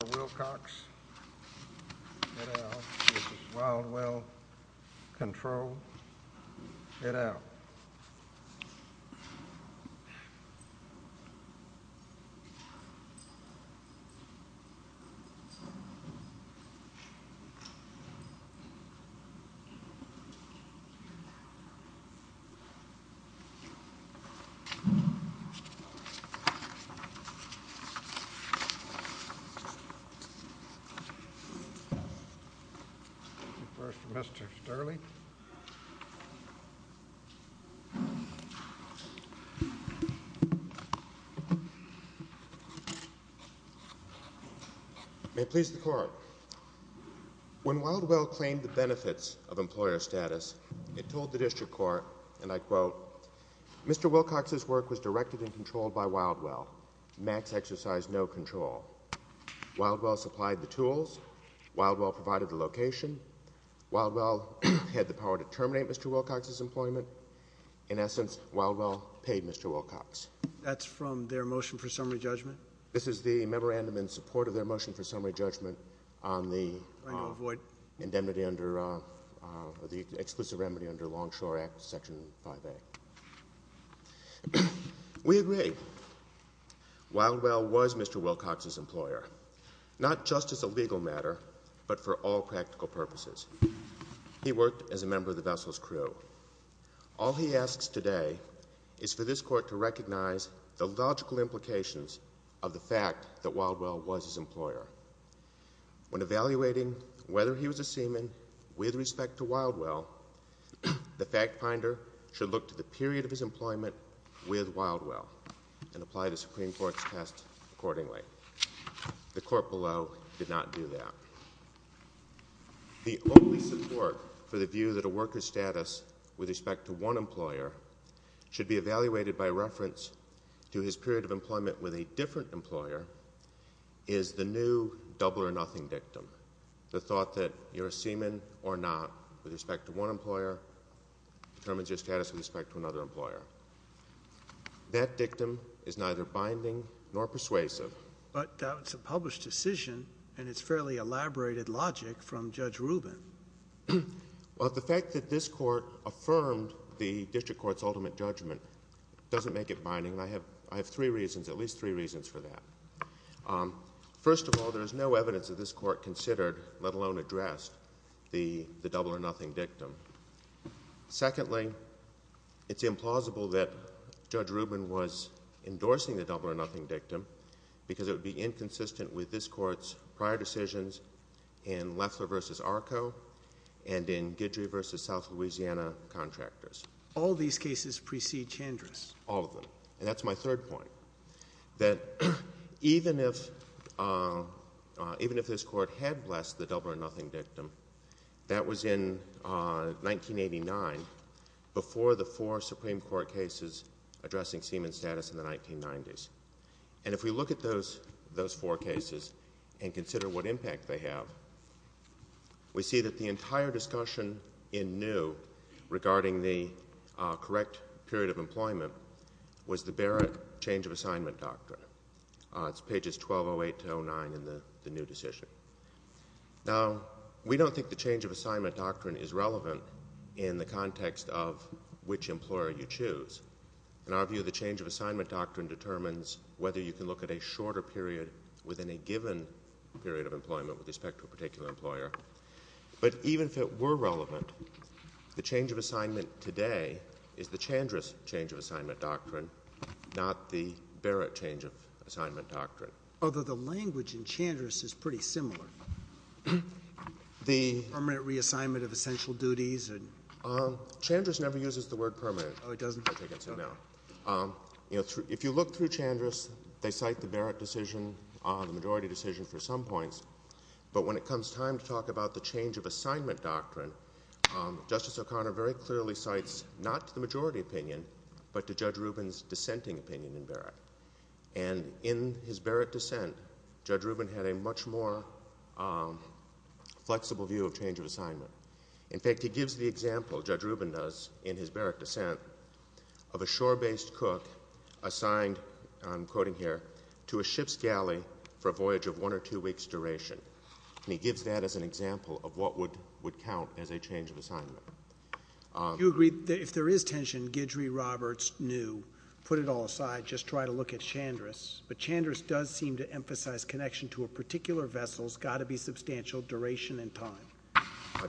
For Wilcox, get out. This is Wildwell. Control, get out. May it please the Court, when Wildwell claimed the benefits of employer status, it told the district court, and I quote, Mr. Wilcox's work was directed and controlled by Wildwell. Max exercised no control. Wildwell supplied the tools. Wildwell provided the location. Wildwell had the power to terminate Mr. Wilcox's employment. In essence, Wildwell paid Mr. Wilcox. That's from their motion for summary judgment? This is the memorandum in support of their motion for summary judgment on the indemnity under the Exclusive Remedy under Longshore Act, Section 5A. We agree. Wildwell was Mr. Wilcox's employer, not just as a legal matter, but for all practical purposes. He worked as a member of the vessel's crew. All he asks today is for this Court to recognize the logical implications of the fact that Wildwell was his employer. When evaluating whether he was a seaman with respect to Wildwell, the fact finder should look to the period of his employment with Wildwell and apply the Supreme Court's test accordingly. The Court below did not do that. The only support for the view that a worker's status with respect to one employer should be evaluated by reference to his period of employment with a different employer is the new double or nothing dictum, the thought that you're a seaman or not with respect to one employer determines your status with respect to another employer. That dictum is neither binding nor persuasive. But that's a published decision, and it's fairly elaborated logic from Judge Rubin. Well, the fact that this Court affirmed the district court's ultimate judgment doesn't make it binding, and I have three reasons, at least three reasons for that. First of all, there is no evidence that this Court considered, let alone addressed, the double or nothing dictum. Secondly, it's implausible that Judge Rubin was endorsing the double or nothing dictum because it would be inconsistent with this Court's prior decisions in Lefler v. Arco and in Guidry v. South Louisiana contractors. All these cases precede Chandris. All of them. And that's my third point, that even if this Court had blessed the double or nothing dictum, that was in 1989, before the four Supreme Court cases addressing seaman status in the 1990s. And if we look at those four cases and consider what impact they have, we see that the entire discussion in New regarding the correct period of employment was the Barrett change of assignment doctrine. It's pages 1208-09 in the New decision. Now, we don't think the change of assignment doctrine is relevant in the context of which employer you choose. In our view, the change of assignment doctrine determines whether you can look at a shorter period within a given period of employment with respect to a particular employer. But even if it were relevant, the change of assignment today is the Chandris change of assignment doctrine, not the Barrett change of assignment doctrine. Although the language in Chandris is pretty similar. The— Permanent reassignment of essential duties. Chandris never uses the word permanent. Oh, it doesn't? I take it as a no. If you look through Chandris, they cite the Barrett decision, the majority decision for some points. But when it comes time to talk about the change of assignment doctrine, Justice O'Connor very And in his Barrett dissent, Judge Rubin had a much more flexible view of change of assignment. In fact, he gives the example, Judge Rubin does in his Barrett dissent, of a shore-based cook assigned, I'm quoting here, to a ship's galley for a voyage of one or two weeks duration. And he gives that as an example of what would count as a change of assignment. Do you agree that if there is tension, Guidry, Roberts, New, put it all aside, just try to look at Chandris. But Chandris does seem to emphasize connection to a particular vessel's got to be substantial duration and time.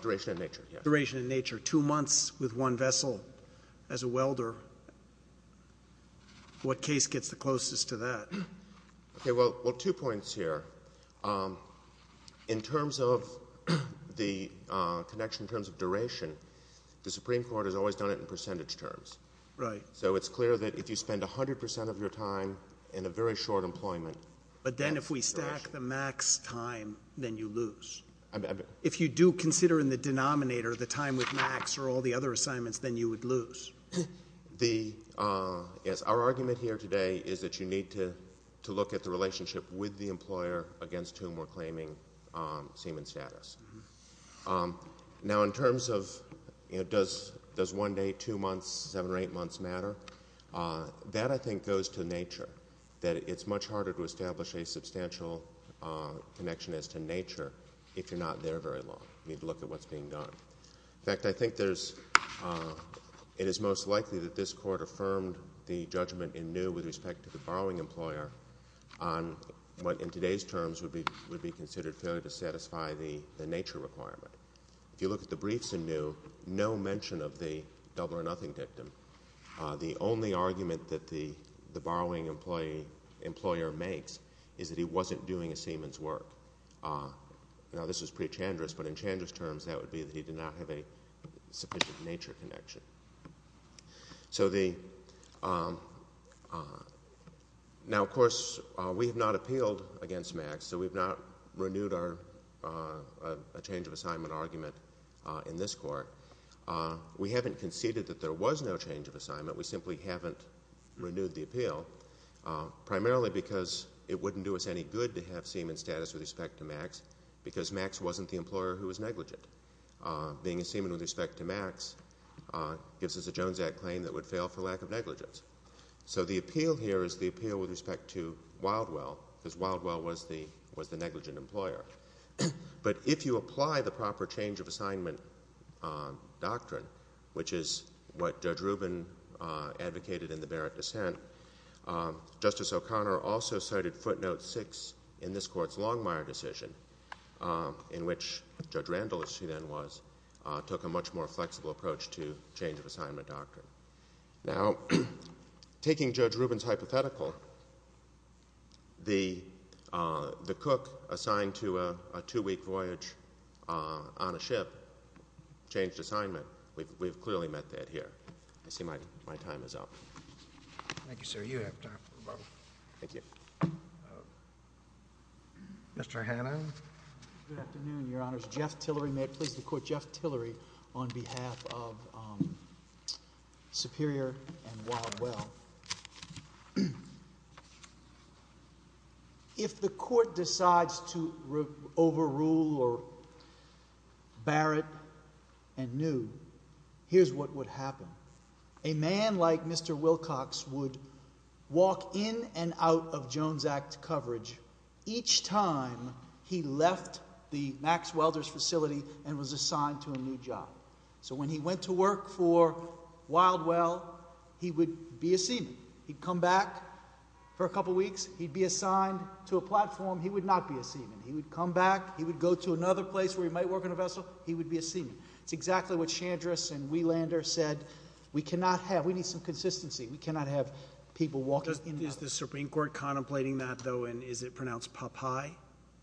Duration and nature, yes. Duration and nature. Two months with one vessel as a welder. What case gets the closest to that? Okay, well, two points here. In terms of the connection in terms of duration, the Supreme Court has always done it in percentage terms. Right. So it's clear that if you spend 100 percent of your time in a very short employment— But then if we stack the max time, then you lose. If you do consider in the denominator the time with max or all the other assignments, then you would lose. The—yes, our argument here today is that you need to look at the relationship with the employer against whom we're claiming seaman status. Now, in terms of, you know, does one day, two months, seven or eight months matter? That, I think, goes to nature, that it's much harder to establish a substantial connection as to nature if you're not there very long. You need to look at what's being done. In fact, I think there's—it is most likely that this Court affirmed the judgment in New with respect to the borrowing employer on what in today's terms would be considered failure to satisfy the nature requirement. If you look at the briefs in New, no mention of the double or nothing victim. The only argument that the borrowing employee—employer makes is that he wasn't doing a seaman's work. Now, this is pretty chandrous, but in chandrous terms, that would be that he did not have a sufficient nature connection. So the—now, of course, we have not appealed against max, so we've not renewed our—a change of assignment argument in this Court. We haven't conceded that there was no change of assignment. We simply haven't renewed the appeal, primarily because it wouldn't do us any good to have seaman status with respect to max because max wasn't the employer who was negligent. Being a seaman with respect to max gives us a Jones Act claim that would fail for lack of negligence. So the appeal here is the appeal with respect to Wildwell because Wildwell was the—was the seaman employer. But if you apply the proper change of assignment doctrine, which is what Judge Rubin advocated in the Barrett dissent, Justice O'Connor also cited footnote six in this Court's Longmire decision, in which Judge Randall, as she then was, took a much more flexible approach to change of assignment doctrine. Now, taking Judge Rubin's hypothetical, the cook assigned to a two-week voyage on a ship changed assignment. We've clearly met that here. I see my time is up. Thank you, sir. You have time for rebuttal. Thank you. Mr. Hannan? Good afternoon, Your Honors. Jeff Tillery. May it please the Court, Jeff Tillery on behalf of Superior and Wildwell. If the Court decides to overrule Barrett and New, here's what would happen. A man like Mr. Wilcox would walk in and out of Jones Act coverage each time he left the Max Welder's facility and was assigned to a new job. So, when he went to work for Wildwell, he would be a seaman. He'd come back for a couple weeks. He'd be assigned to a platform. He would not be a seaman. He would come back. He would go to another place where he might work on a vessel. He would be a seaman. It's exactly what Chandris and Wielander said. We need some consistency. We cannot have people walking in and out. Is the Supreme Court contemplating that, though, and is it pronounced Popeye?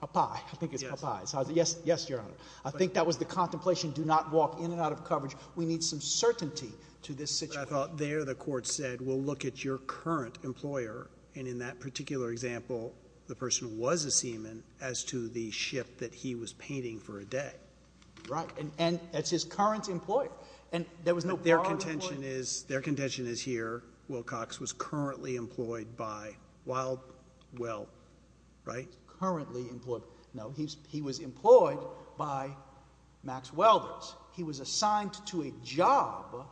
Popeye. I think it's Popeye. Yes, Your Honor. I think that was the contemplation. Do not walk in and out of coverage. We need some certainty to this situation. But I thought there the Court said, well, look at your current employer. And in that particular example, the person was a seaman as to the shift that he was painting for a day. Right. And that's his current employer. And there was no prior employer. Their contention is here, Wilcox was currently employed by Wildwell, right? Currently employed. No, he was employed by Max Welvers. He was assigned to a job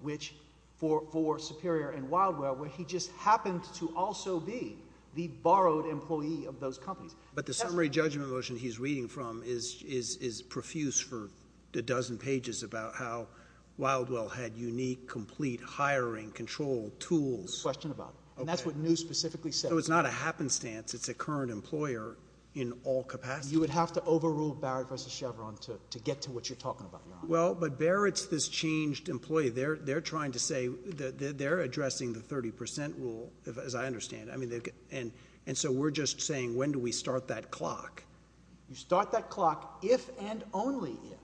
which for Superior and Wildwell, where he just happened to also be the borrowed employee of those companies. But the summary judgment motion he's reading from is profuse for a dozen pages about how Wildwell had unique, complete hiring control tools. Question about it. And that's what New specifically said. So it's not a happenstance. It's a current employer in all capacity. You would have to overrule Barrett v. Chevron to get to what you're talking about. Well, but Barrett's this changed employee. They're trying to say that they're addressing the 30% rule, as I understand. I mean, and so we're just saying, when do we start that clock? You start that clock if and only if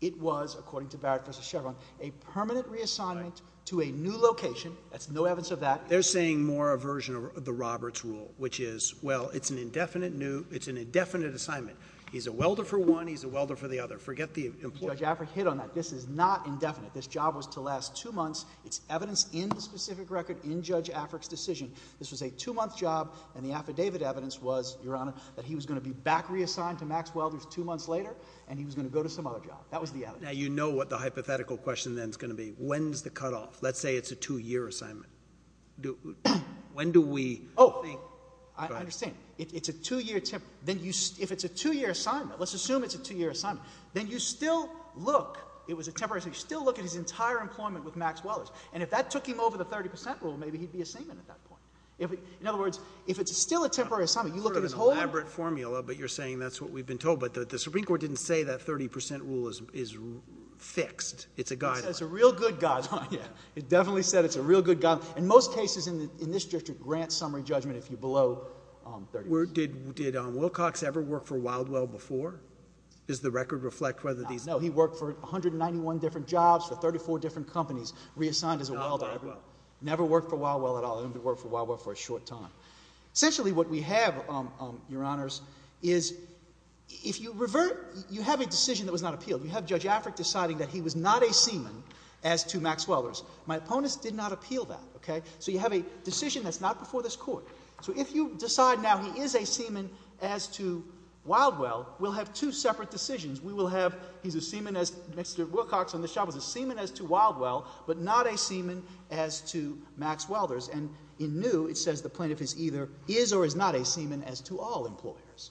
it was, according to Barrett v. Chevron, a permanent reassignment to a new location. That's no evidence of that. They're saying more a version of the Roberts rule, which is, well, it's an indefinite assignment. He's a welder for one. He's a welder for the other. Forget the employer. Judge Afric hit on that. This is not indefinite. This job was to last two months. It's evidence in the specific record in Judge Afric's decision. This was a two-month job. And the affidavit evidence was, Your Honor, that he was going to be back reassigned to Max Welvers two months later. And he was going to go to some other job. That was the evidence. Now, you know what the hypothetical question then is going to be. When's the cutoff? Let's say it's a two-year assignment. Do—when do we— Oh, I understand. It's a two-year—then you—if it's a two-year assignment, let's assume it's a two-year assignment, then you still look—it was a temporary—you still look at his entire employment with Max Welvers. And if that took him over the 30 percent rule, maybe he'd be a seaman at that point. If—in other words, if it's still a temporary assignment, you look at his whole— It's sort of an elaborate formula, but you're saying that's what we've been told. But the Supreme Court didn't say that 30 percent rule is fixed. It's a guideline. It's a real good guideline, yeah. It definitely said it's a real good guideline. In most cases in this district, grant summary judgment if you're below 30 percent. Did Wilcox ever work for Wildwell before? Does the record reflect whether these— No, he worked for 191 different jobs for 34 different companies, reassigned as a Wildwell. Never worked for Wildwell at all. He only worked for Wildwell for a short time. Essentially, what we have, Your Honors, is if you revert—you have a decision that was not appealed. You have Judge Afric deciding that he was not a seaman as to Max Welders. My opponents did not appeal that, okay? So you have a decision that's not before this Court. So if you decide now he is a seaman as to Wildwell, we'll have two separate decisions. We will have he's a seaman as—Mr. Wilcox on this job was a seaman as to Wildwell, but not a seaman as to Max Welders. And in New, it says the plaintiff is either—is or is not a seaman as to all employers.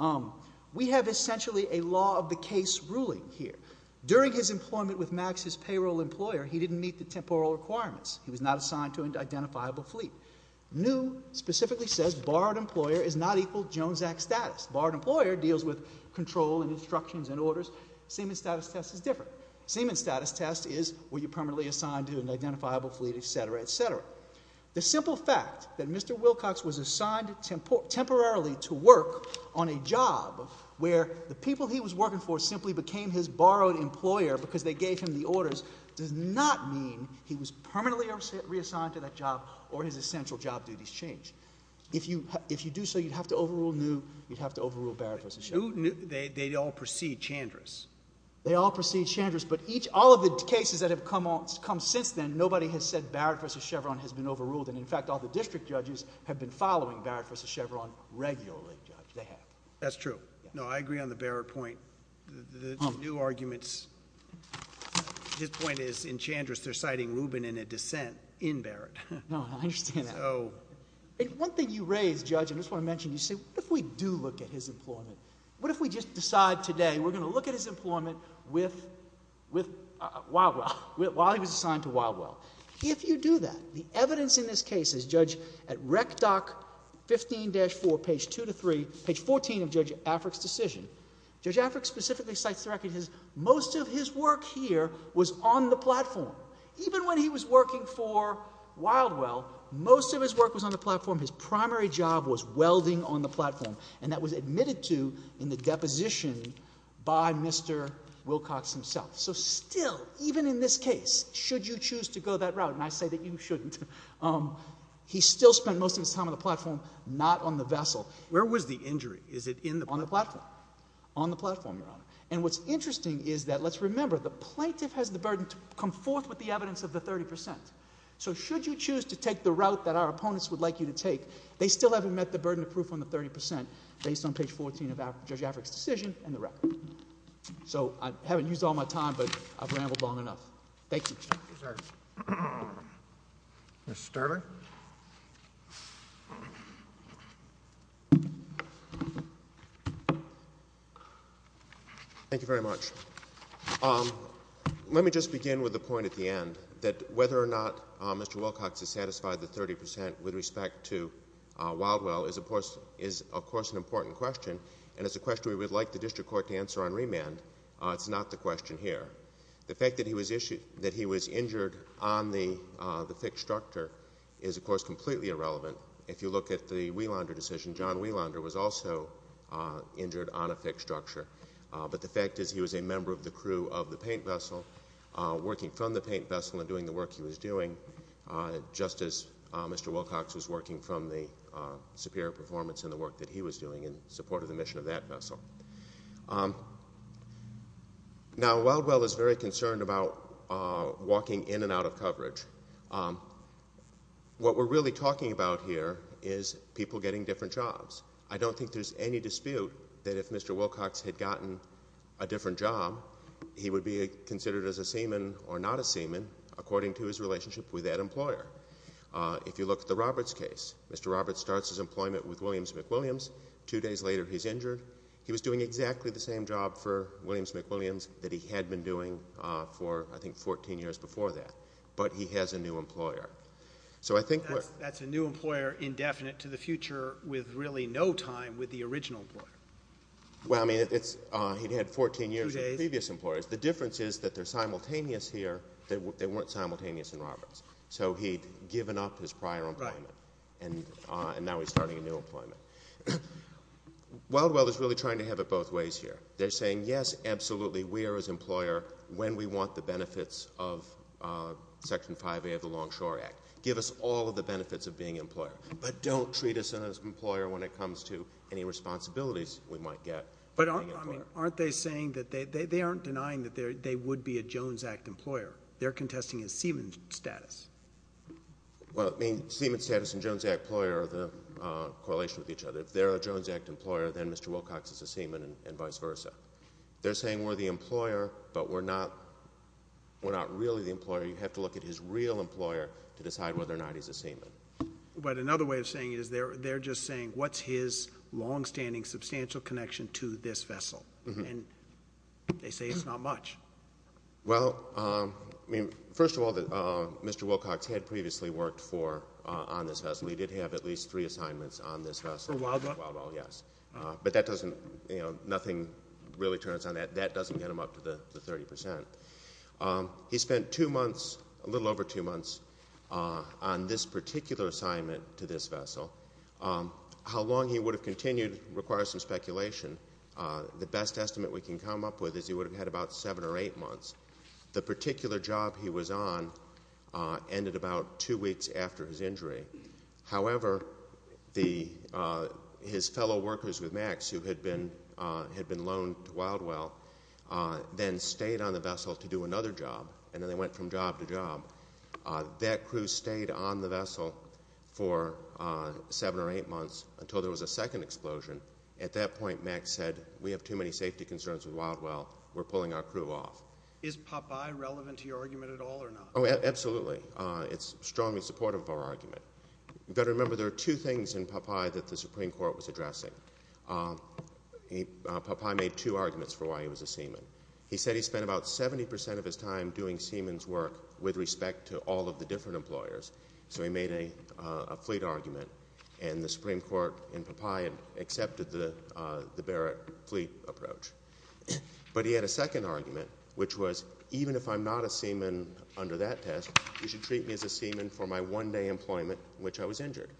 Um, we have essentially a law of the case ruling here. During his employment with Max's payroll employer, he didn't meet the temporal requirements. He was not assigned to an identifiable fleet. New specifically says borrowed employer is not equal Jones Act status. Borrowed employer deals with control and instructions and orders. Seaman status test is different. Seaman status test is were you permanently assigned to an identifiable fleet, et cetera, et cetera. The simple fact that Mr. Wilcox was assigned temporarily to work on a job where the people he was working for simply became his borrowed employer because they gave him the orders does not mean he was permanently reassigned to that job or his essential job duties changed. If you—if you do so, you'd have to overrule New. You'd have to overrule Barrett v. Chevron. They all precede Chandra's. They all precede Chandra's, but each—all of the cases that have come since then, nobody has said Barrett v. Chevron has been overruled. And in fact, all the district judges have been following Barrett v. Chevron regularly, Judge. They have. That's true. No, I agree on the Barrett point. The new arguments—his point is in Chandra's, they're citing Rubin in a dissent in Barrett. No, I understand that. So— And one thing you raise, Judge, I just want to mention. You say, what if we do look at his employment? What if we just decide today we're going to look at his employment with—with Wildwell, while he was assigned to Wildwell? If you do that, the evidence in this case is, Judge, at REC DOC 15-4, page 2 to 3, page 14 of Judge Afric's decision. Judge Afric specifically cites the record, his—most of his work here was on the platform. Even when he was working for Wildwell, most of his work was on the platform. His primary job was welding on the platform, and that was admitted to in the deposition by Mr. Wilcox himself. So still, even in this case, should you choose to go that route, and I say that you shouldn't, he still spent most of his time on the platform, not on the vessel. Where was the injury? Is it in the—on the platform? On the platform, Your Honor. And what's interesting is that—let's remember, the plaintiff has the burden to come forth with the evidence of the 30 percent. So should you choose to take the route that our opponents would like you to take, they still haven't met the burden of proof on the 30 percent, based on page 14 of Judge Afric's decision and the record. So I haven't used all my time, but I've rambled long enough. Thank you. Mr. Sterling? Thank you very much. Let me just begin with the point at the end, that whether or not Mr. Wilcox has satisfied the 30 percent with respect to Wildwell is, of course, an important question, and it's a question we would like the district court to answer on remand. It's not the question here. The fact that he was injured on the fixed structure is, of course, completely irrelevant. If you look at the Wielander decision, John Wielander was also injured on a fixed structure. But the fact is he was a member of the crew of the paint vessel, working from the paint vessel and doing the work he was doing, just as Mr. Wilcox was working from the superior performance in the work that he was doing, in support of the mission of that vessel. Now, Wildwell is very concerned about walking in and out of coverage. What we're really talking about here is people getting different jobs. I don't think there's any dispute that if Mr. Wilcox had gotten a different job, he would be considered as a seaman or not a seaman, according to his relationship with that employer. If you look at the Roberts case, Mr. Roberts starts his employment with Williams & McWilliams, two days later he's injured. He was doing exactly the same job for Williams & McWilliams that he had been doing for, I think, 14 years before that. But he has a new employer. That's a new employer indefinite to the future with really no time with the original employer. Well, I mean, he'd had 14 years with previous employers. The difference is that they're simultaneous here. They weren't simultaneous in Roberts. So he'd given up his prior employment and now he's starting a new employment. Wildwell is really trying to have it both ways here. They're saying, yes, absolutely, we are his employer when we want the benefits of Section 5A of the Longshore Act. Give us all of the benefits of being an employer, but don't treat us as an employer when it comes to any responsibilities we might get. But aren't they saying that they aren't denying that they would be a Jones Act employer? They're contesting his seaman status. Well, I mean, seaman status and Jones Act employer are the correlation with each other. If they're a Jones Act employer, then Mr. Wilcox is a seaman and vice versa. They're saying we're the employer, but we're not really the employer. You have to look at his real employer to decide whether or not he's a seaman. But another way of saying it is they're just saying, what's his longstanding substantial connection to this vessel? And they say it's not much. Well, I mean, first of all, Mr. Wilcox had previously worked on this vessel. He did have at least three assignments on this vessel. Yes, but nothing really turns on that. That doesn't get him up to the 30%. He spent a little over two months on this particular assignment to this vessel. How long he would have continued requires some speculation. The best estimate we can come up with is he would have had about seven or eight months. The particular job he was on ended about two weeks after his injury. However, his fellow workers with Max, who had been loaned to Wildwell, then stayed on the vessel to do another job, and then they went from job to job. That crew stayed on the vessel for seven or eight months until there was a second explosion. At that point, Max said, we have too many safety concerns with Wildwell. We're pulling our crew off. Is Popeye relevant to your argument at all or not? Oh, absolutely. It's strongly supportive of our argument. You've got to remember there are two things in Popeye that the Supreme Court was addressing. Popeye made two arguments for why he was a seaman. He said he spent about 70% of his time doing seaman's work with respect to all of the different employers. So he made a fleet argument, and the Supreme Court and Popeye accepted the Barrett fleet approach. But he had a second argument, which was, even if I'm not a seaman under that test, you should treat me as a seaman for my one-day employment, which I was injured.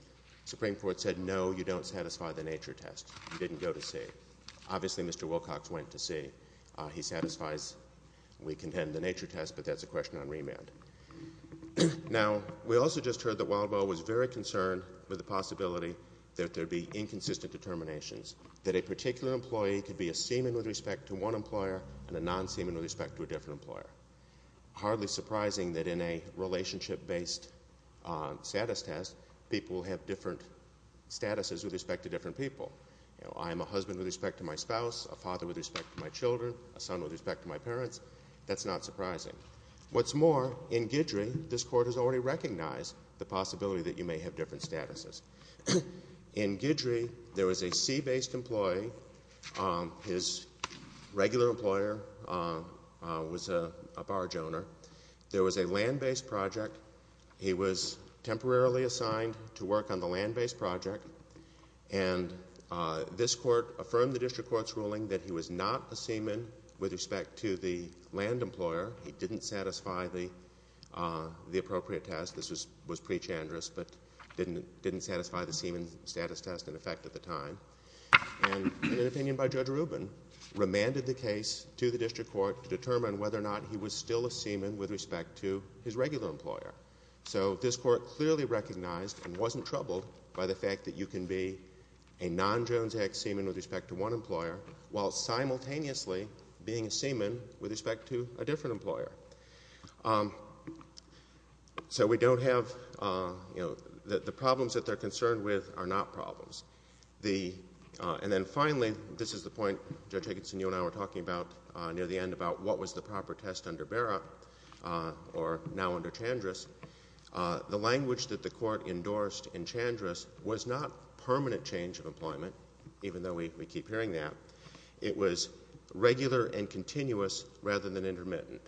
Supreme Court said, no, you don't satisfy the nature test. You didn't go to sea. Obviously, Mr. Wilcox went to sea. He satisfies, we contend, the nature test, but that's a question on remand. Now, we also just heard that Wildwell was very concerned with the possibility that there'd be inconsistent determinations, that a particular employee could be a seaman with respect to one employer and a non-seaman with respect to a different employer. Hardly surprising that in a relationship-based status test, people have different statuses with respect to different people. I'm a husband with respect to my spouse, a father with respect to my children, a son with respect to my parents. That's not surprising. What's more, in Guidry, this Court has already recognized the possibility that you may have different statuses. In Guidry, there was a sea-based employee. His regular employer was a barge owner. There was a land-based project. He was temporarily assigned to work on the land-based project. And this Court affirmed the District Court's ruling that he was not a seaman with respect to the land employer. He didn't satisfy the appropriate test. This was pre-Chandrase, but didn't satisfy the seaman status test in effect at the time. And an opinion by Judge Rubin remanded the case to the District Court to determine whether or not he was still a seaman with respect to his regular employer. So this Court clearly recognized and wasn't troubled by the fact that you can be a non-Jones Act seaman with respect to one employer, while simultaneously being a seaman with respect to a different employer. So we don't have, you know, the problems that they're concerned with are not problems. The—and then finally, this is the point Judge Higginson, you and I were talking about near the end about what was the proper test under Vera or now under Chandrase. The language that the Court endorsed in Chandrase was not permanent change of employment, even though we keep hearing that. It was regular and continuous rather than intermittent.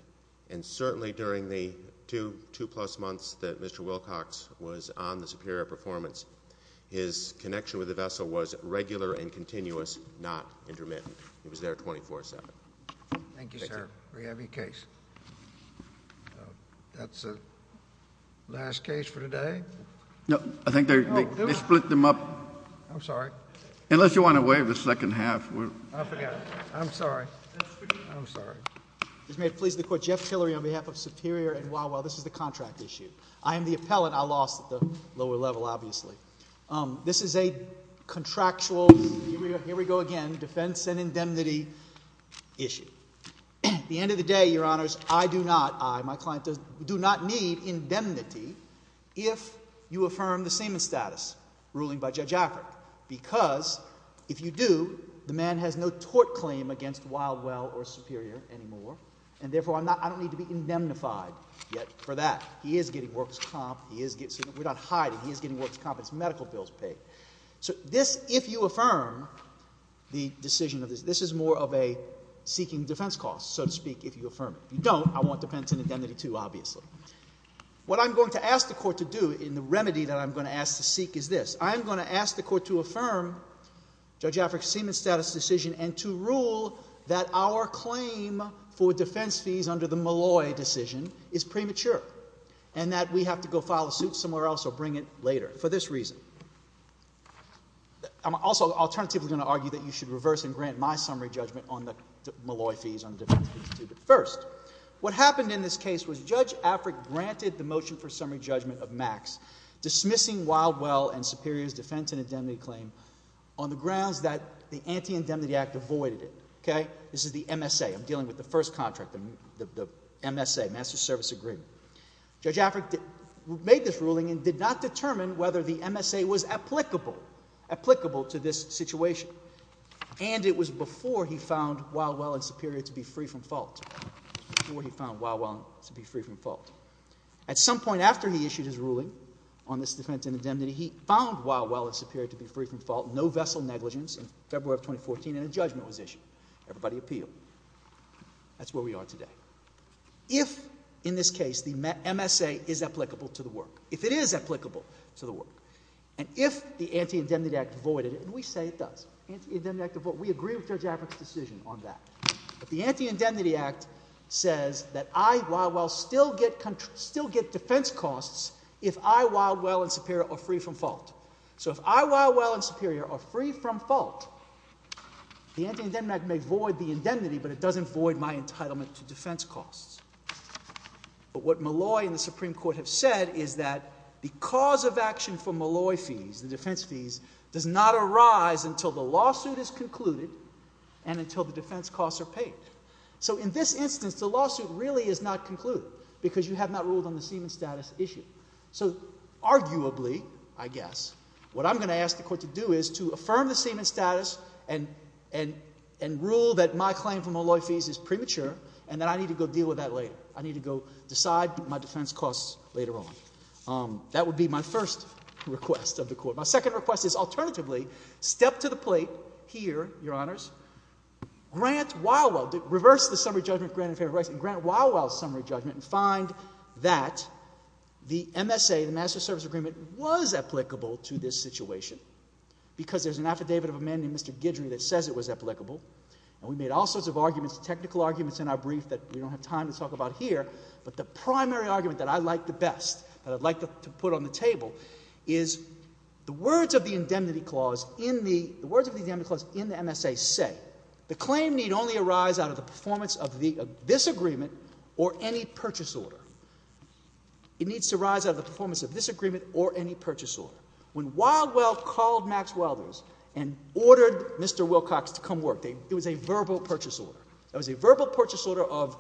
And certainly during the two plus months that Mr. Wilcox was on the Superior Performance, his connection with the vessel was regular and continuous, not intermittent. He was there 24-7. Thank you, sir. We have your case. That's the last case for today. No, I think they split them up. I'm sorry. Unless you want to waive the second half. I'm sorry. I'm sorry. This may have pleased the Court. Jeff Hillary on behalf of Superior and Wawa, this is the contract issue. I am the appellant. I lost at the lower level, obviously. This is a contractual, here we go again, defense and indemnity issue. At the end of the day, Your Honors, I do not, I, my client does, do not need indemnity if you affirm the semen status ruling by Judge Afric. Because if you do, the man has no tort claim against Wildwell or Superior anymore. And therefore, I'm not, I don't need to be indemnified yet for that. He is getting work's comp. He is getting, we're not hiding. He is getting work's comp. His medical bill's paid. So this, if you affirm the decision of this, this is more of a seeking defense cost, so to speak, if you affirm it. If you don't, I want defense and indemnity too, obviously. What I'm going to ask the Court to do in the remedy that I'm going to ask to seek is this. I'm going to ask the Court to affirm Judge Afric's semen status decision and to rule that our claim for defense fees under the Malloy decision is premature. And that we have to go file a suit somewhere else or bring it later. For this reason, I'm also alternatively going to argue that you should reverse and grant my summary judgment on the Malloy fees on defense fees too. But first, what happened in this case was Judge Afric granted the motion for summary judgment of Max dismissing Wildwell and Superior's defense and indemnity claim on the grounds that the Anti-Indemnity Act avoided it. Okay? This is the MSA. I'm dealing with the first contract, the MSA, Master Service Agreement. Judge Afric made this ruling and did not determine whether the MSA was applicable to this situation. And it was before he found Wildwell and Superior to be free from fault. Before he found Wildwell to be free from fault. At some point after he issued his ruling on this defense and indemnity, he found Wildwell and Superior to be free from fault, no vessel negligence in February of 2014, and a judgment was issued. Everybody appealed. That's where we are today. If, in this case, the MSA is applicable to the work. If it is applicable to the work. And if the Anti-Indemnity Act avoided it, and we say it does, we agree with Judge Afric's decision on that. But the Anti-Indemnity Act says that I, Wildwell, still get defense costs if I, Wildwell, and Superior are free from fault. So if I, Wildwell, and Superior are free from fault, the Anti-Indemnity Act may void the defense costs. But what Molloy and the Supreme Court have said is that the cause of action for Molloy fees, the defense fees, does not arise until the lawsuit is concluded and until the defense costs are paid. So in this instance, the lawsuit really is not concluded because you have not ruled on the semen status issue. So arguably, I guess, what I'm going to ask the court to do is to affirm the semen status and rule that my claim for Molloy fees is premature and that I need to go deal with that later. I need to go decide my defense costs later on. That would be my first request of the court. My second request is, alternatively, step to the plate here, Your Honors, grant Wildwell, reverse the summary judgment granted in favor of rights, and grant Wildwell's summary judgment and find that the MSA, the Master Service Agreement, was applicable to this situation. Because there's an affidavit of amending, Mr. Guidry, that says it was applicable. And we made all sorts of arguments, technical arguments, in our brief that we don't have time to talk about here. But the primary argument that I like the best, that I'd like to put on the table, is the words of the indemnity clause in the MSA say, the claim need only arise out of the performance of this agreement or any purchase order. It needs to arise out of the performance of this agreement or any purchase order. When Wildwell called Maxwellder's and ordered Mr. Wilcox to come work, it was a verbal purchase order. It was a verbal purchase order of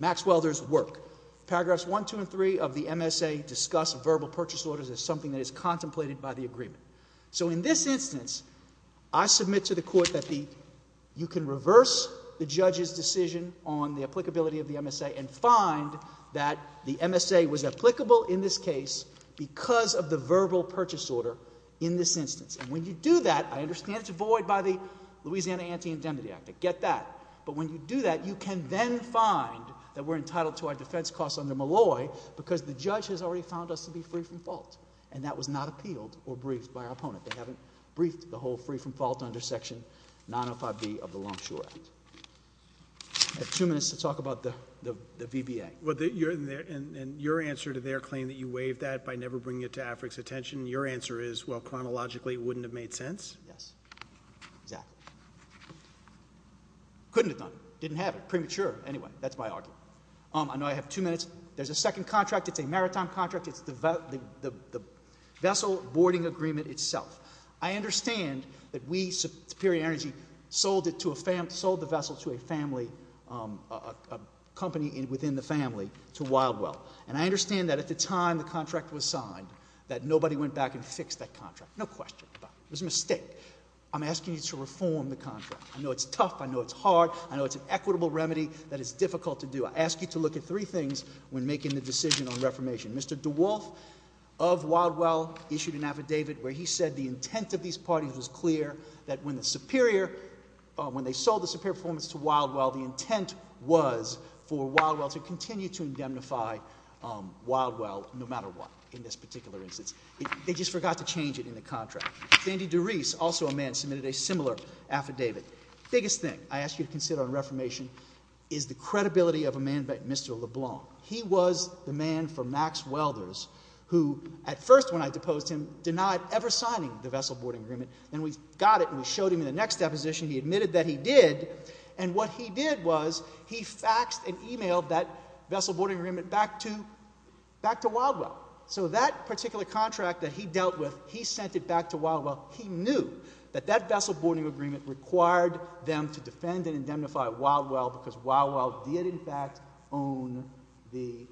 Maxwellder's work. Paragraphs 1, 2, and 3 of the MSA discuss verbal purchase orders as something that is contemplated by the agreement. So in this instance, I submit to the court that you can reverse the judge's decision on the applicability of the MSA and find that the MSA was applicable in this case because of the verbal purchase order in this instance. And when you do that, I understand it's void by the Louisiana Anti-Indemnity Act. I get that. But when you do that, you can then find that we're entitled to our defense costs under Malloy because the judge has already found us to be free from fault. And that was not appealed or briefed by our opponent. They haven't briefed the whole free from fault under Section 905B of the Longshore Act. I have two minutes to talk about the VBA. And your answer to their claim that you waived that by never bringing it to AFRIC's attention, your answer is, well, chronologically, it wouldn't have made sense? Yes, exactly. Couldn't have done it. Didn't have it. Premature, anyway. That's my argument. I know I have two minutes. There's a second contract. It's a maritime contract. It's the vessel boarding agreement itself. I understand that we, Superior Energy, sold the vessel to a family, a company within the family, to Wildwell. And I understand that at the time the contract was signed, that nobody went back and fixed that contract. No question about it. It was a mistake. I'm asking you to reform the contract. I know it's tough. I know it's hard. I know it's an equitable remedy that is difficult to do. I ask you to look at three things when making the decision on reformation. Mr. DeWolf of Wildwell issued an affidavit where he said the intent of these parties was clear, that when the Superior, when they sold the Superior Performance to Wildwell, the intent was for Wildwell to continue to indemnify Wildwell no matter what, in this particular instance. They just forgot to change it in the contract. Sandy DeReese, also a man, submitted a similar affidavit. Biggest thing I ask you to consider on reformation is the credibility of a man by Mr. LeBlanc. He was the man for Max Welders who, at first when I deposed him, denied ever signing the vessel boarding agreement. Then we got it and we showed him in the next deposition. He admitted that he did. And what he did was he faxed and emailed that vessel boarding agreement back to Wildwell. So that particular contract that he dealt with, he sent it back to Wildwell. He knew that that vessel boarding agreement required them to defend and indemnify Wildwell because Wildwell did in fact own the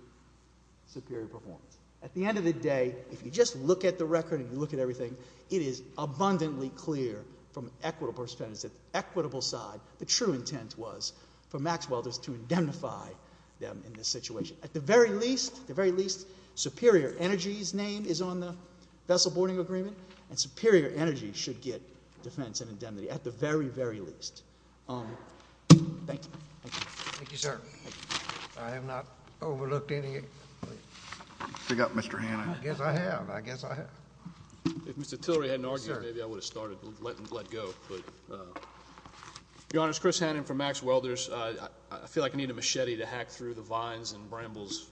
Superior Performance. At the end of the day, if you just look at the record and you look at everything, it is abundantly clear from an equitable perspective, the equitable side, the true intent was for Max Welders to indemnify them in this situation. At the very least, the very least, Superior Energy's name is on the vessel boarding agreement and Superior Energy should get defense and indemnity, at the very, very least. Thank you. Thank you, sir. I have not overlooked any. Pick up, Mr. Hanna. I guess I have. I guess I have. If Mr. Tillery hadn't argued, maybe I would have started letting him let go. Your Honor, it's Chris Hanna from Max Welders. I feel like I need a machete to hack through the vines and brambles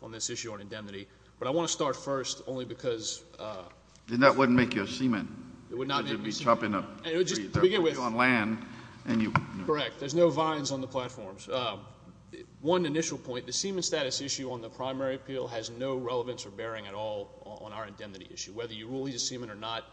on this issue on indemnity. But I want to start first only because— Then that wouldn't make you a seaman. It would not make me a seaman. It would just— To begin with— You're on land and you— Correct. There's no vines on the platforms. One initial point, the seaman status issue on the primary appeal has no relevance or whether you rule he's a seaman or not.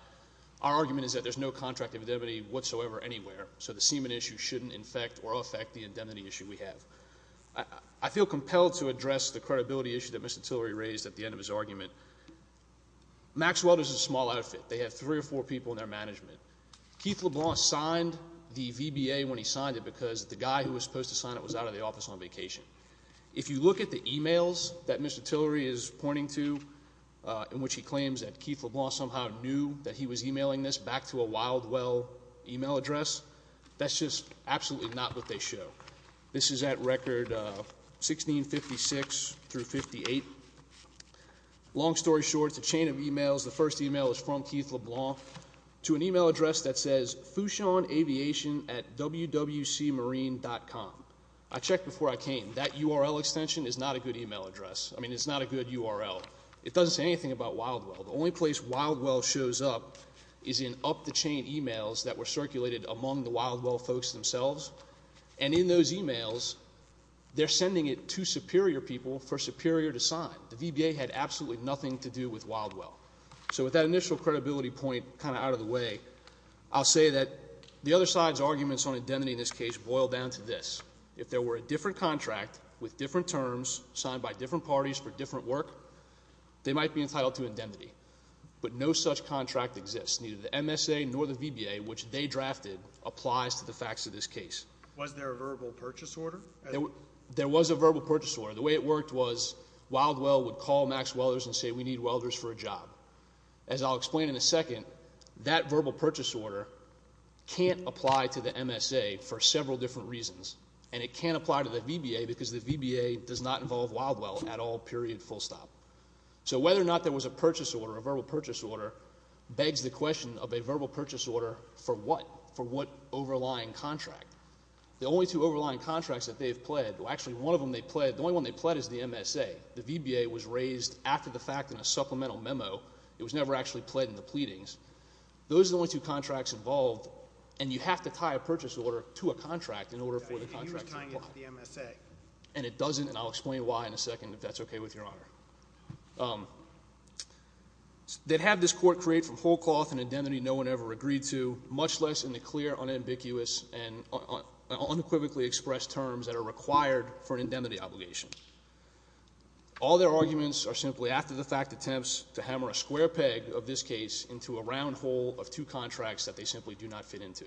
Our argument is that there's no contract of indemnity whatsoever anywhere. So the seaman issue shouldn't infect or affect the indemnity issue we have. I feel compelled to address the credibility issue that Mr. Tillery raised at the end of his argument. Max Welders is a small outfit. They have three or four people in their management. Keith LeBlanc signed the VBA when he signed it because the guy who was supposed to sign it was out of the office on vacation. If you look at the emails that Mr. Tillery is pointing to in which he claims that Keith LeBlanc somehow knew that he was emailing this back to a Wildwell email address, that's just absolutely not what they show. This is at record 1656 through 58. Long story short, the chain of emails, the first email is from Keith LeBlanc to an email address that says fushunaviation at wwcmarine.com. I checked before I came. That URL extension is not a good email address. I mean, it's not a good URL. It doesn't say anything about Wildwell. The only place Wildwell shows up is in up-the-chain emails that were circulated among the Wildwell folks themselves. And in those emails, they're sending it to superior people for superior to sign. The VBA had absolutely nothing to do with Wildwell. So with that initial credibility point kind of out of the way, I'll say that the other side's arguments on indemnity in this case boil down to this. If there were a different contract with different terms signed by different parties for different work, they might be entitled to indemnity. But no such contract exists. Neither the MSA nor the VBA, which they drafted, applies to the facts of this case. Was there a verbal purchase order? There was a verbal purchase order. The way it worked was Wildwell would call Max Welders and say we need welders for a job. As I'll explain in a second, that verbal purchase order can't apply to the MSA for several different reasons. And it can't apply to the VBA because the VBA does not involve Wildwell at all, period, full stop. So whether or not there was a purchase order, a verbal purchase order, begs the question of a verbal purchase order for what? For what overlying contract? The only two overlying contracts that they've pled, well actually one of them they pled, the only one they pled is the MSA. The VBA was raised after the fact in a supplemental memo. It was never actually pled in the pleadings. Those are the only two contracts involved. And you have to tie a purchase order to a contract in order for the contract to apply. You were tying it to the MSA. And it doesn't, and I'll explain why in a second if that's okay with your honor. They'd have this court create from whole cloth an indemnity no one ever agreed to, much less in the clear, unambiguous, and unequivocally expressed terms that are required for an indemnity obligation. All their arguments are simply after the fact attempts to hammer a square peg of this case into a round hole of two contracts that they simply do not fit into.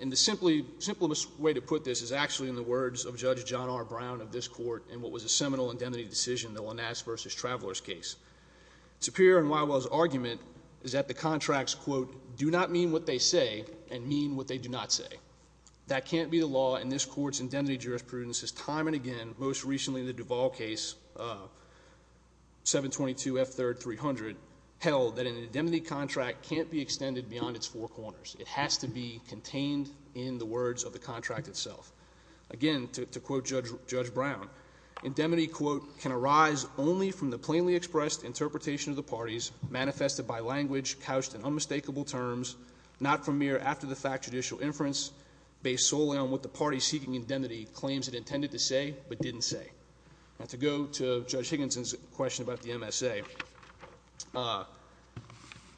And the simplest way to put this is actually in the words of Judge John R. Brown of this court in what was a seminal indemnity decision, the Lanas versus Travelers case. Superior and Wildwell's argument is that the contracts, quote, do not mean what they say and mean what they do not say. That can't be the law and this court's indemnity jurisprudence is time and again, most recently in the Duval case, 722 F3rd 300, held that an indemnity contract can't be extended beyond its four corners. It has to be contained in the words of the contract itself. Again, to quote Judge Brown, indemnity, quote, can arise only from the plainly expressed interpretation of the parties manifested by language couched in unmistakable terms, not from mere after the fact judicial inference based solely on what the party seeking indemnity claims it intended to say but didn't say. Now, to go to Judge Higginson's question about the MSA,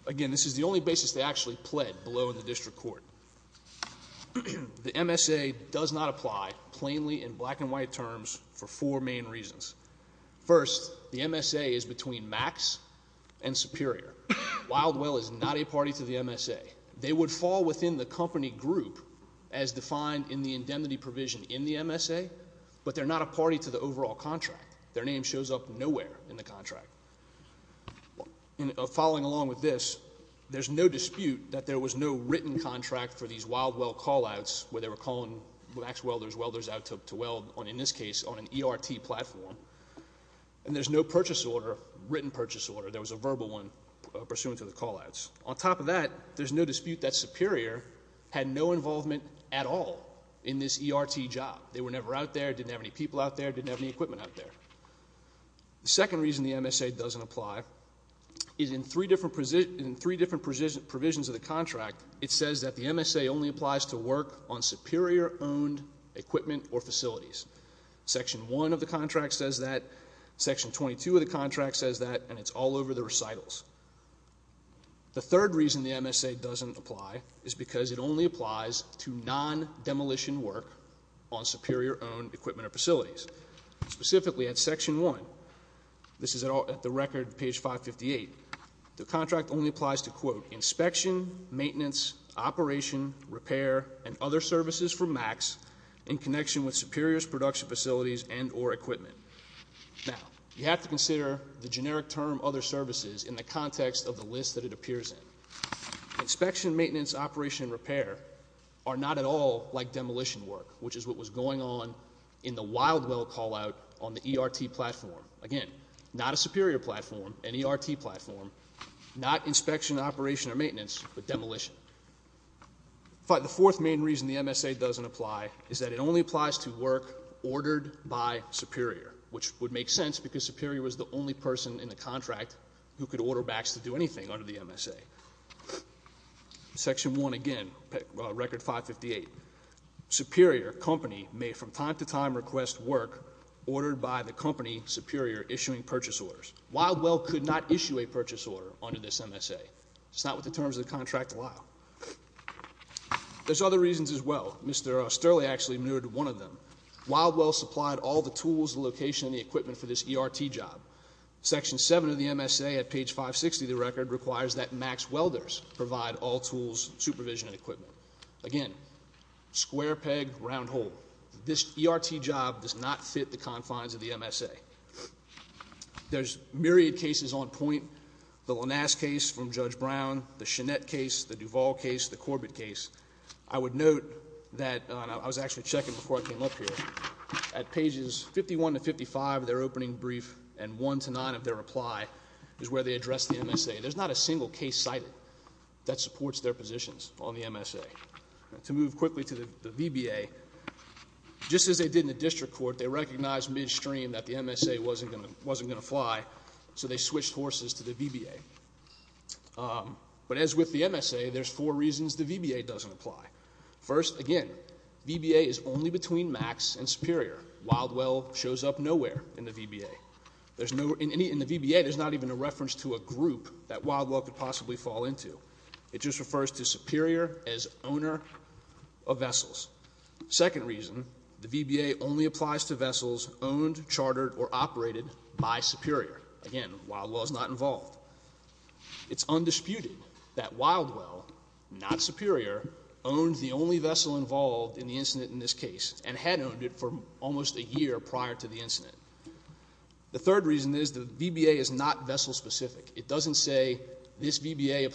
again, this is the only basis they actually pled below in the district court. The MSA does not apply plainly in black and white terms for four main reasons. First, the MSA is between max and superior. Wildwell is not a party to the MSA. They would fall within the company group as defined in the indemnity provision in the MSA, but they're not a party to the overall contract. Their name shows up nowhere in the contract. Following along with this, there's no dispute that there was no written contract for these Wildwell callouts where they were calling wax welders, welders out to weld on, in this case, on an ERT platform and there's no purchase order, written purchase order. There was a verbal one pursuant to the callouts. On top of that, there's no dispute that superior had no involvement at all in this ERT job. They were never out there, didn't have any people out there, didn't have any equipment out there. The second reason the MSA doesn't apply is in three different provisions of the contract, it says that the MSA only applies to work on superior-owned equipment or facilities. Section 1 of the contract says that. Section 22 of the contract says that, and it's all over the recitals. The third reason the MSA doesn't apply is because it only applies to non-demolition work on superior-owned equipment or facilities. Specifically, at Section 1, this is at the record, page 558, the contract only applies to, quote, inspection, maintenance, operation, repair, and other services from MAX in connection with superior's production facilities and or equipment. Now, you have to consider the generic term, other services, in the context of the list that it appears in. Inspection, maintenance, operation, and repair are not at all like demolition work, which is what was going on in the Wildwell callout on the ERT platform. Again, not a superior platform, an ERT platform, not inspection, operation, or maintenance, but demolition. In fact, the fourth main reason the MSA doesn't apply is that it only applies to work ordered by superior, which would make sense because superior was the only person in the contract who could order MAX to do anything under the MSA. Section 1, again, record 558, superior company may from time to time request work ordered by the company superior issuing purchase orders. Wildwell could not issue a purchase order under this MSA. It's not what the terms of the contract allow. There's other reasons as well. Mr. Sterling actually menued one of them. Wildwell supplied all the tools, the location, and the equipment for this ERT job. Section 7 of the MSA at page 560 of the record requires that MAX welders provide all tools, supervision, and equipment. Again, square peg, round hole. This ERT job does not fit the confines of the MSA. There's myriad cases on point. The Lanasz case from Judge Brown, the Chenette case, the Duvall case, the Corbett case. I would note that, and I was actually checking before I came up here, at pages 51 to 55 of their opening brief and 1 to 9 of their reply is where they address the MSA. There's not a single case cited that supports their positions on the MSA. To move quickly to the VBA, just as they did in the district court, they recognized midstream that the MSA wasn't going to fly, so they switched horses to the VBA. But as with the MSA, there's four reasons the VBA doesn't apply. First, again, VBA is only between MAX and Superior. Wildwell shows up nowhere in the VBA. In the VBA, there's not even a reference to a group that Wildwell could possibly fall into. It just refers to Superior as owner of vessels. Second reason, the VBA only applies to vessels owned, chartered, or operated by Superior. Again, Wildwell is not involved. It's undisputed that Wildwell, not Superior, owned the only vessel involved in the incident in this case, and had owned it for almost a year prior to the incident. The third reason is the VBA is not vessel specific. It says this VBA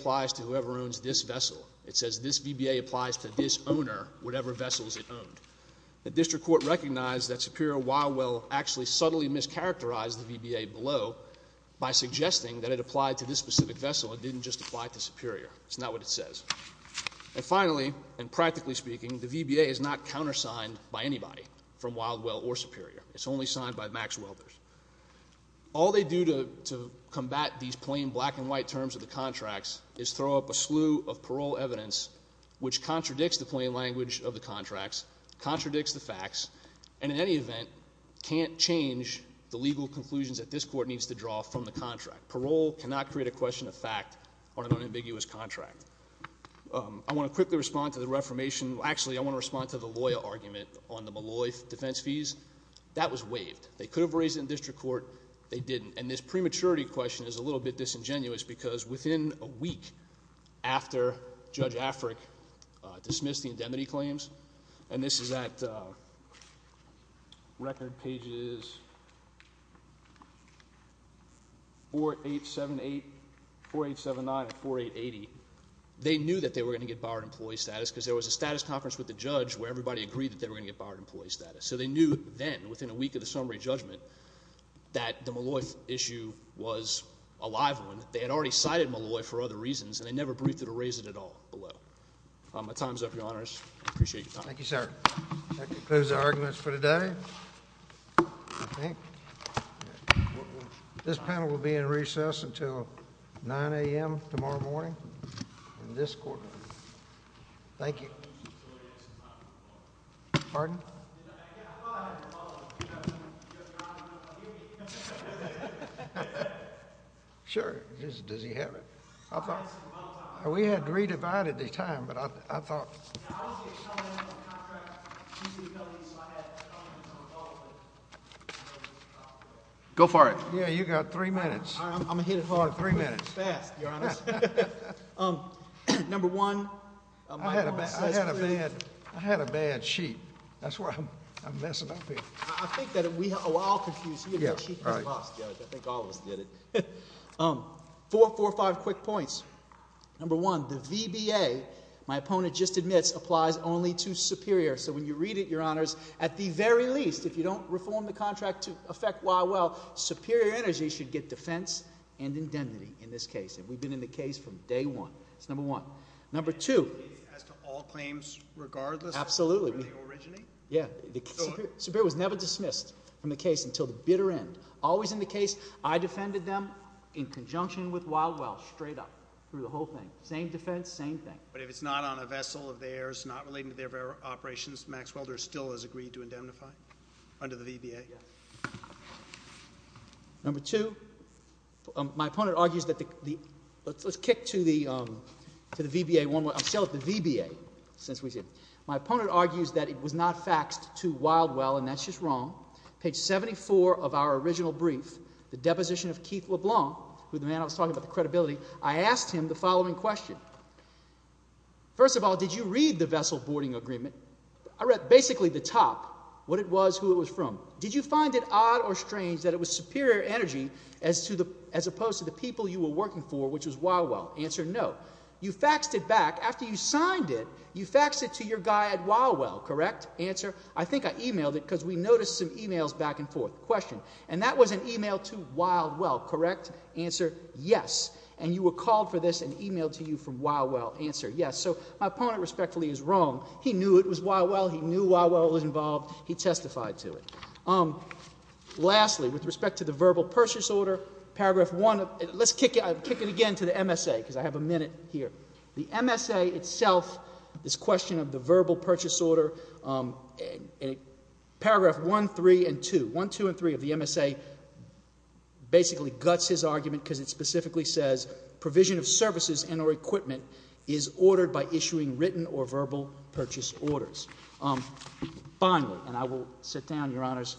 applies to this owner, whatever vessels it owned. The district court recognized that Superior Wildwell actually subtly mischaracterized the VBA below by suggesting that it applied to this specific vessel. It didn't just apply to Superior. It's not what it says. And finally, and practically speaking, the VBA is not countersigned by anybody from Wildwell or Superior. It's only signed by MAX welders. All they do to combat these plain black and white terms of the contracts is throw up a slew of parole evidence which contradicts the plain language of the contracts, contradicts the facts, and in any event, can't change the legal conclusions that this court needs to draw from the contract. Parole cannot create a question of fact on an unambiguous contract. I want to quickly respond to the reformation. Actually, I want to respond to the lawyer argument on the Maloy defense fees. That was waived. They could have raised it in district court. They didn't. And this prematurity question is a little bit disingenuous because within a week after Judge Afric dismissed the indemnity claims, and this is at record pages 4878, 4879, and 4880, they knew that they were going to get barred employee status because there was a status conference with the judge where everybody agreed that they were going to get barred employee status. So they knew then, within a week of the summary judgment, that the Maloy issue was a live one. They had already cited Maloy for other reasons, and they never briefed it or raised it at all below. My time's up, Your Honors. I appreciate your time. Thank you, sir. That concludes the arguments for today, I think. This panel will be in recess until 9 a.m. tomorrow morning in this courtroom. Thank you. Pardon? Yeah, I thought I had to follow up. Sure, does he have it? We had re-divided the time, but I thought. Go for it. Yeah, you got three minutes. All right, I'm going to hit it hard. Three minutes. Fast, Your Honor. Number one. I had a bad sheet. That's why I'm messing up here. I think that we all confused. He had a sheet that was lost, Judge. I think all of us did it. Four or five quick points. Number one. The VBA, my opponent just admits, applies only to superior. So when you read it, Your Honors, at the very least, if you don't reform the contract to affect Y. Well, superior energy should get defense and indemnity in this case. And we've been in the case from day one. That's number one. Number two. As to all claims, regardless of where they originate? Yeah, the superior was never dismissed from the case until the bitter end. Always in the case, I defended them in conjunction with Wildwell, straight up, through the whole thing. Same defense, same thing. But if it's not on a vessel of theirs, not relating to their operations, Max Welder still has agreed to indemnify under the VBA? Yeah. Number two. My opponent argues that the, let's kick to the VBA one more. I'm still at the VBA since we did. My opponent argues that it was not faxed to Wildwell. And that's just wrong. Page 74 of our original brief, the deposition of Keith LeBlanc, who the man I was talking about, the credibility. I asked him the following question. First of all, did you read the vessel boarding agreement? I read basically the top, what it was, who it was from. Did you find it odd or strange that it was superior energy as opposed to the people you were working for, which was Wildwell? Answer, no. You faxed it back. After you signed it, you faxed it to your guy at Wildwell, correct? Answer, I think I emailed it because we noticed some emails back and forth. Question. And that was an email to Wildwell, correct? Answer, yes. And you were called for this and emailed to you from Wildwell. Answer, yes. So my opponent respectfully is wrong. He knew it was Wildwell. He knew Wildwell was involved. He testified to it. Lastly, with respect to the verbal purchase order, paragraph one, let's kick it again to the MSA because I have a minute here. The MSA itself, this question of the verbal purchase order, paragraph one, three, and two, one, two, and three of the MSA basically guts his argument because it specifically says provision of services and or equipment is ordered by issuing written or verbal purchase orders. Finally, and I will sit down, Your Honors,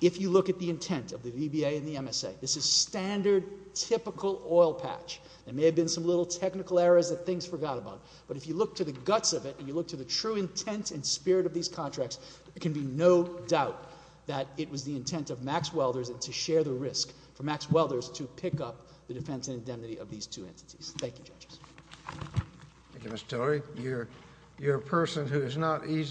if you look at the intent of the VBA and the MSA, this is standard, typical oil patch. There may have been some little technical errors that things forgot about. But if you look to the guts of it and you look to the true intent and spirit of these contracts, there can be no doubt that it was the intent of Max Welders to share the risk for Max Welders to pick up the defense indemnity of these two entities. Thank you, judges. Thank you, Mr. Tillery. You're a person who is not easy.